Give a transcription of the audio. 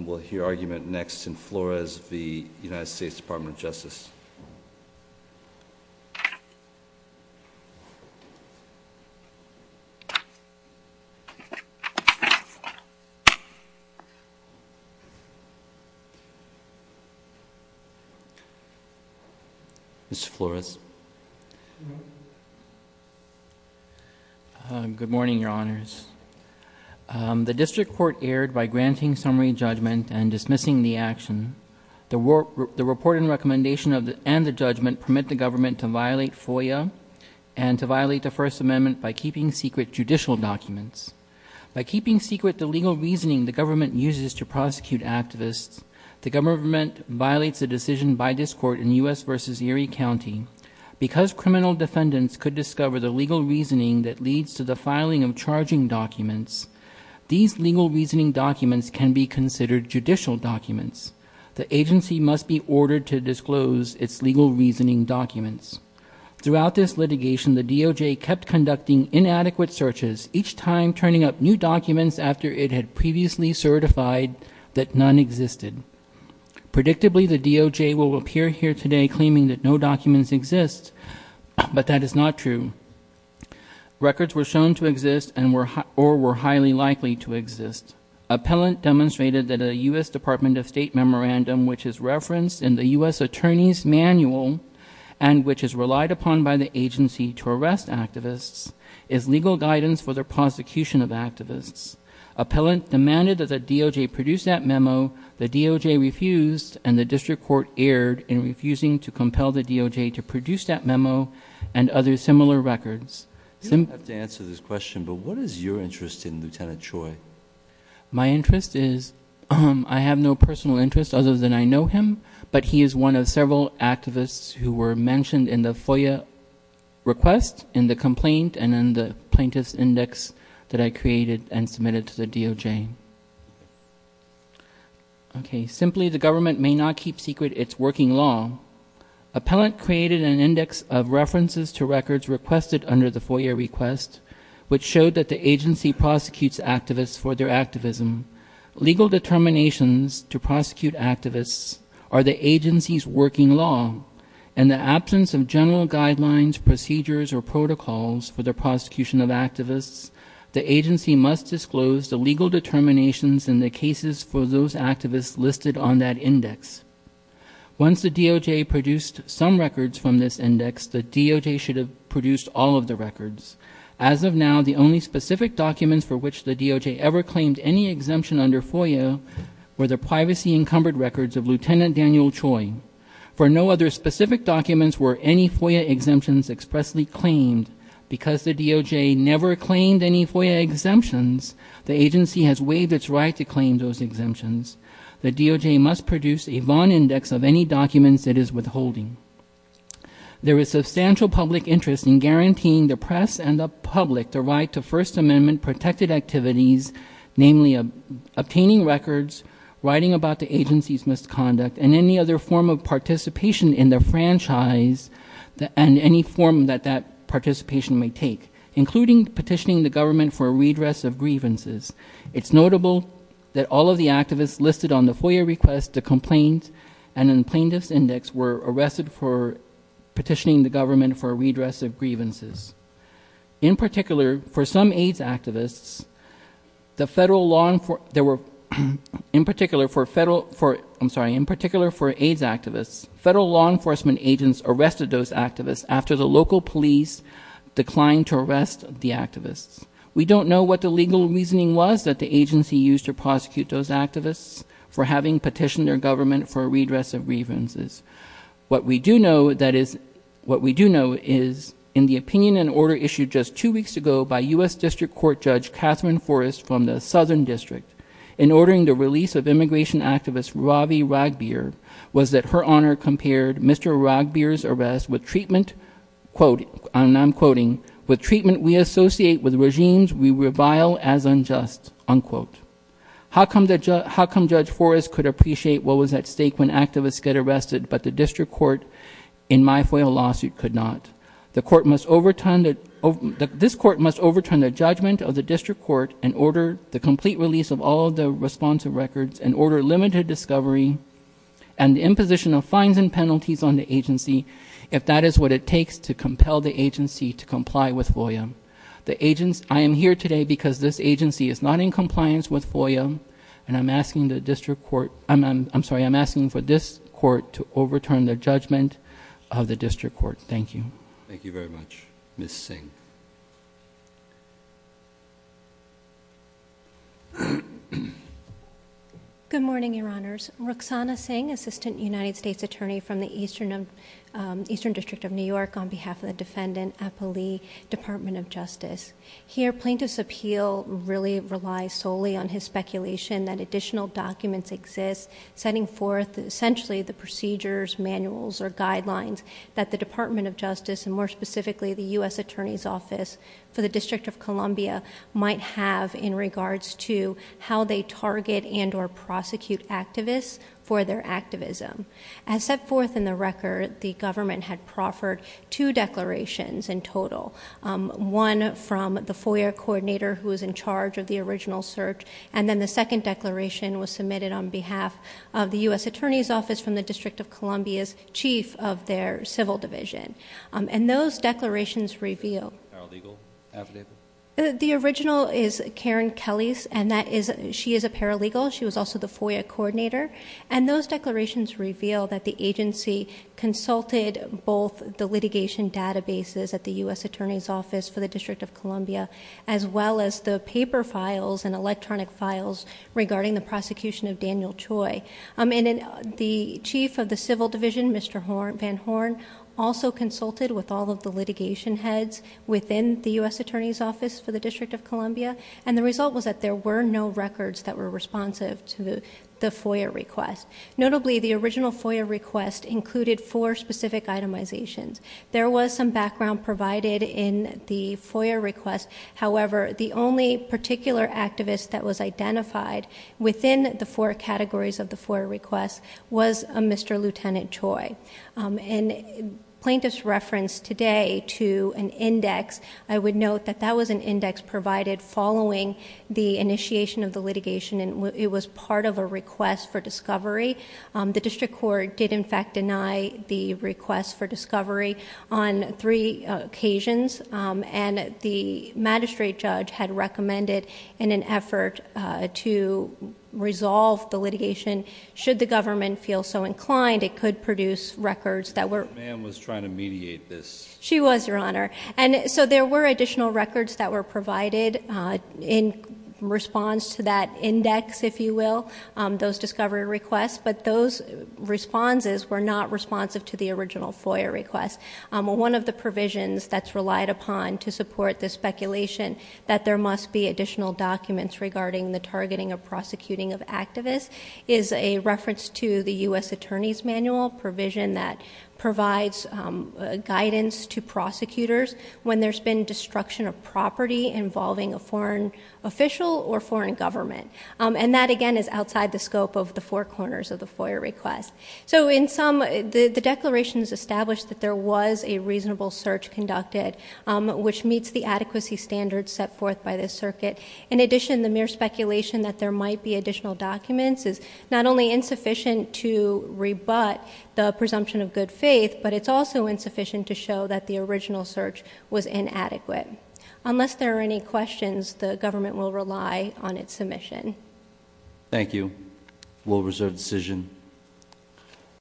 We'll hear argument next in Flores v. United States Department of Justice. Mr. Flores. Good morning, Your Honors. The district court erred by granting summary judgment and dismissing the action. The report and recommendation and the judgment permit the government to violate FOIA and to violate the First Amendment by keeping secret judicial documents. By keeping secret the legal reasoning the government uses to prosecute activists, the government violates a decision by this court in U.S. v. Erie County. Because criminal defendants could discover the legal reasoning that leads to the filing of charging documents, these legal reasoning documents can be considered judicial documents. The agency must be ordered to disclose its legal reasoning documents. Throughout this litigation, the DOJ kept conducting inadequate searches, each time turning up new documents after it had previously certified that none existed. Predictably, the DOJ will appear here today claiming that no documents exist, but that is not true. Records were shown to exist or were highly likely to exist. Appellant demonstrated that a U.S. Department of State memorandum, which is referenced in the U.S. Attorney's Manual and which is relied upon by the agency to arrest activists, is legal guidance for the prosecution of activists. Appellant demanded that the DOJ produce that memo. The DOJ refused, and the district court erred in refusing to compel the DOJ to produce that memo and other similar records. You don't have to answer this question, but what is your interest in Lieutenant Choi? My interest is, I have no personal interest other than I know him, but he is one of several activists who were mentioned in the FOIA request, in the complaint, and in the plaintiff's index that I created and submitted to the DOJ. Okay, simply, the government may not keep secret its working law. Appellant created an index of references to records requested under the FOIA request, which showed that the agency prosecutes activists for their activism. Legal determinations to prosecute activists are the agency's working law, and the absence of general guidelines, procedures, or protocols for the prosecution of activists, the agency must disclose the legal determinations in the cases for those activists listed on that index. Once the DOJ produced some records from this index, the DOJ should have produced all of the records. As of now, the only specific documents for which the DOJ ever claimed any exemption under FOIA were the privacy-encumbered records of Lieutenant Daniel Choi. For no other specific documents were any FOIA exemptions expressly claimed. Because the DOJ never claimed any FOIA exemptions, the agency has waived its right to claim those exemptions. The DOJ must produce a VON index of any documents it is withholding. There is substantial public interest in guaranteeing the press and the public the right to First Amendment-protected activities, namely obtaining records, writing about the agency's misconduct, and any other form of participation in the franchise and any form that that participation may take, including petitioning the government for a redress of grievances. It's notable that all of the activists listed on the FOIA request, the complaint, and the plaintiff's index were arrested for petitioning the government for a redress of grievances. In particular, for some AIDS activists, the federal law enforcement, there were, in particular for federal, for, I'm sorry, in particular for AIDS activists, federal law enforcement agents arrested those activists after the local police declined to arrest the activists. We don't know what the legal reasoning was that the agency used to prosecute those activists for having petitioned their government for a redress of grievances. What we do know, that is, what we do know is, in the opinion and order issued just two weeks ago by U.S. District Court Judge Catherine Forrest from the Southern District, in ordering the release of immigration activist Ravi Ragbir, was that her honor compared Mr. Ragbir's arrest with treatment, quote, and I'm quoting, with treatment we associate with regimes we revile as unjust, unquote. How come Judge Forrest could appreciate what was at stake when activists get arrested, but the district court in my FOIA lawsuit could not? The court must overturn, this court must overturn the judgment of the district court and order the complete release of all the responsive records and order limited discovery and imposition of fines and penalties on the agency if that is what it takes to compel the agency to comply with FOIA. I am here today because this agency is not in compliance with FOIA and I'm asking the district court, I'm sorry, I'm asking for this court to overturn the judgment of the district court. Thank you. Thank you very much. Ms. Singh. Good morning, your honors. Rukhsana Singh, Assistant United States Attorney from the Eastern District of New York on behalf of the defendant, Appali, Department of Justice. Here plaintiff's appeal really relies solely on his speculation that additional documents exist setting forth essentially the procedures, manuals, or guidelines that the Department of Justice and more specifically the U.S. Attorney's Office for the District of Columbia might have in regards to how they target and or prosecute activists for their activism. As set forth in the record, the government had proffered two declarations in total, one from the FOIA coordinator who was in charge of the original search and then the second declaration was submitted on behalf of the U.S. Attorney's Office from the District of Columbia's chief of their civil division. And those declarations reveal. Paralegal affidavit? The original is Karen Kelly's and that is she is a paralegal. She was also the FOIA coordinator. And those declarations reveal that the agency consulted both the litigation databases at the U.S. Attorney's Office for the District of Columbia as well as the paper files and electronic files regarding the prosecution of Daniel Choi. The chief of the civil division, Mr. Van Horn, also consulted with all of the litigation heads within the U.S. Attorney's Office for the District of Columbia and the result was that there were no records that were responsive to the FOIA request. Notably, the original FOIA request included four specific itemizations. There was some background provided in the FOIA request. However, the only particular activist that was identified within the four categories of the FOIA request was a Mr. Lieutenant Choi. And plaintiff's reference today to an index, I would note that that was an index provided following the initiation of the litigation and it was part of a request for discovery. The district court did in fact deny the request for discovery on three occasions and the magistrate judge had recommended in an effort to resolve the litigation, should the government feel so inclined, it could produce records that were... The man was trying to mediate this. She was, Your Honor. And so there were additional records that were provided in response to that index, if you will, those discovery requests, but those responses were not responsive to the original FOIA request. One of the provisions that's relied upon to support the speculation that there must be additional documents regarding the targeting of prosecuting of activists is a reference to the U.S. Attorney's Manual provision that provides guidance to prosecutors when there's been destruction of property involving a foreign official or foreign government. And that, again, is outside the scope of the four corners of the FOIA request. So in sum, the declaration has established that there was a reasonable search conducted, which meets the adequacy standards set forth by this circuit. In addition, the mere speculation that there might be additional documents is not only insufficient to rebut the presumption of good faith, but it's also insufficient to show that the original search was inadequate. Unless there are any questions, the government will rely on its submission. Thank you. We'll reserve the decision.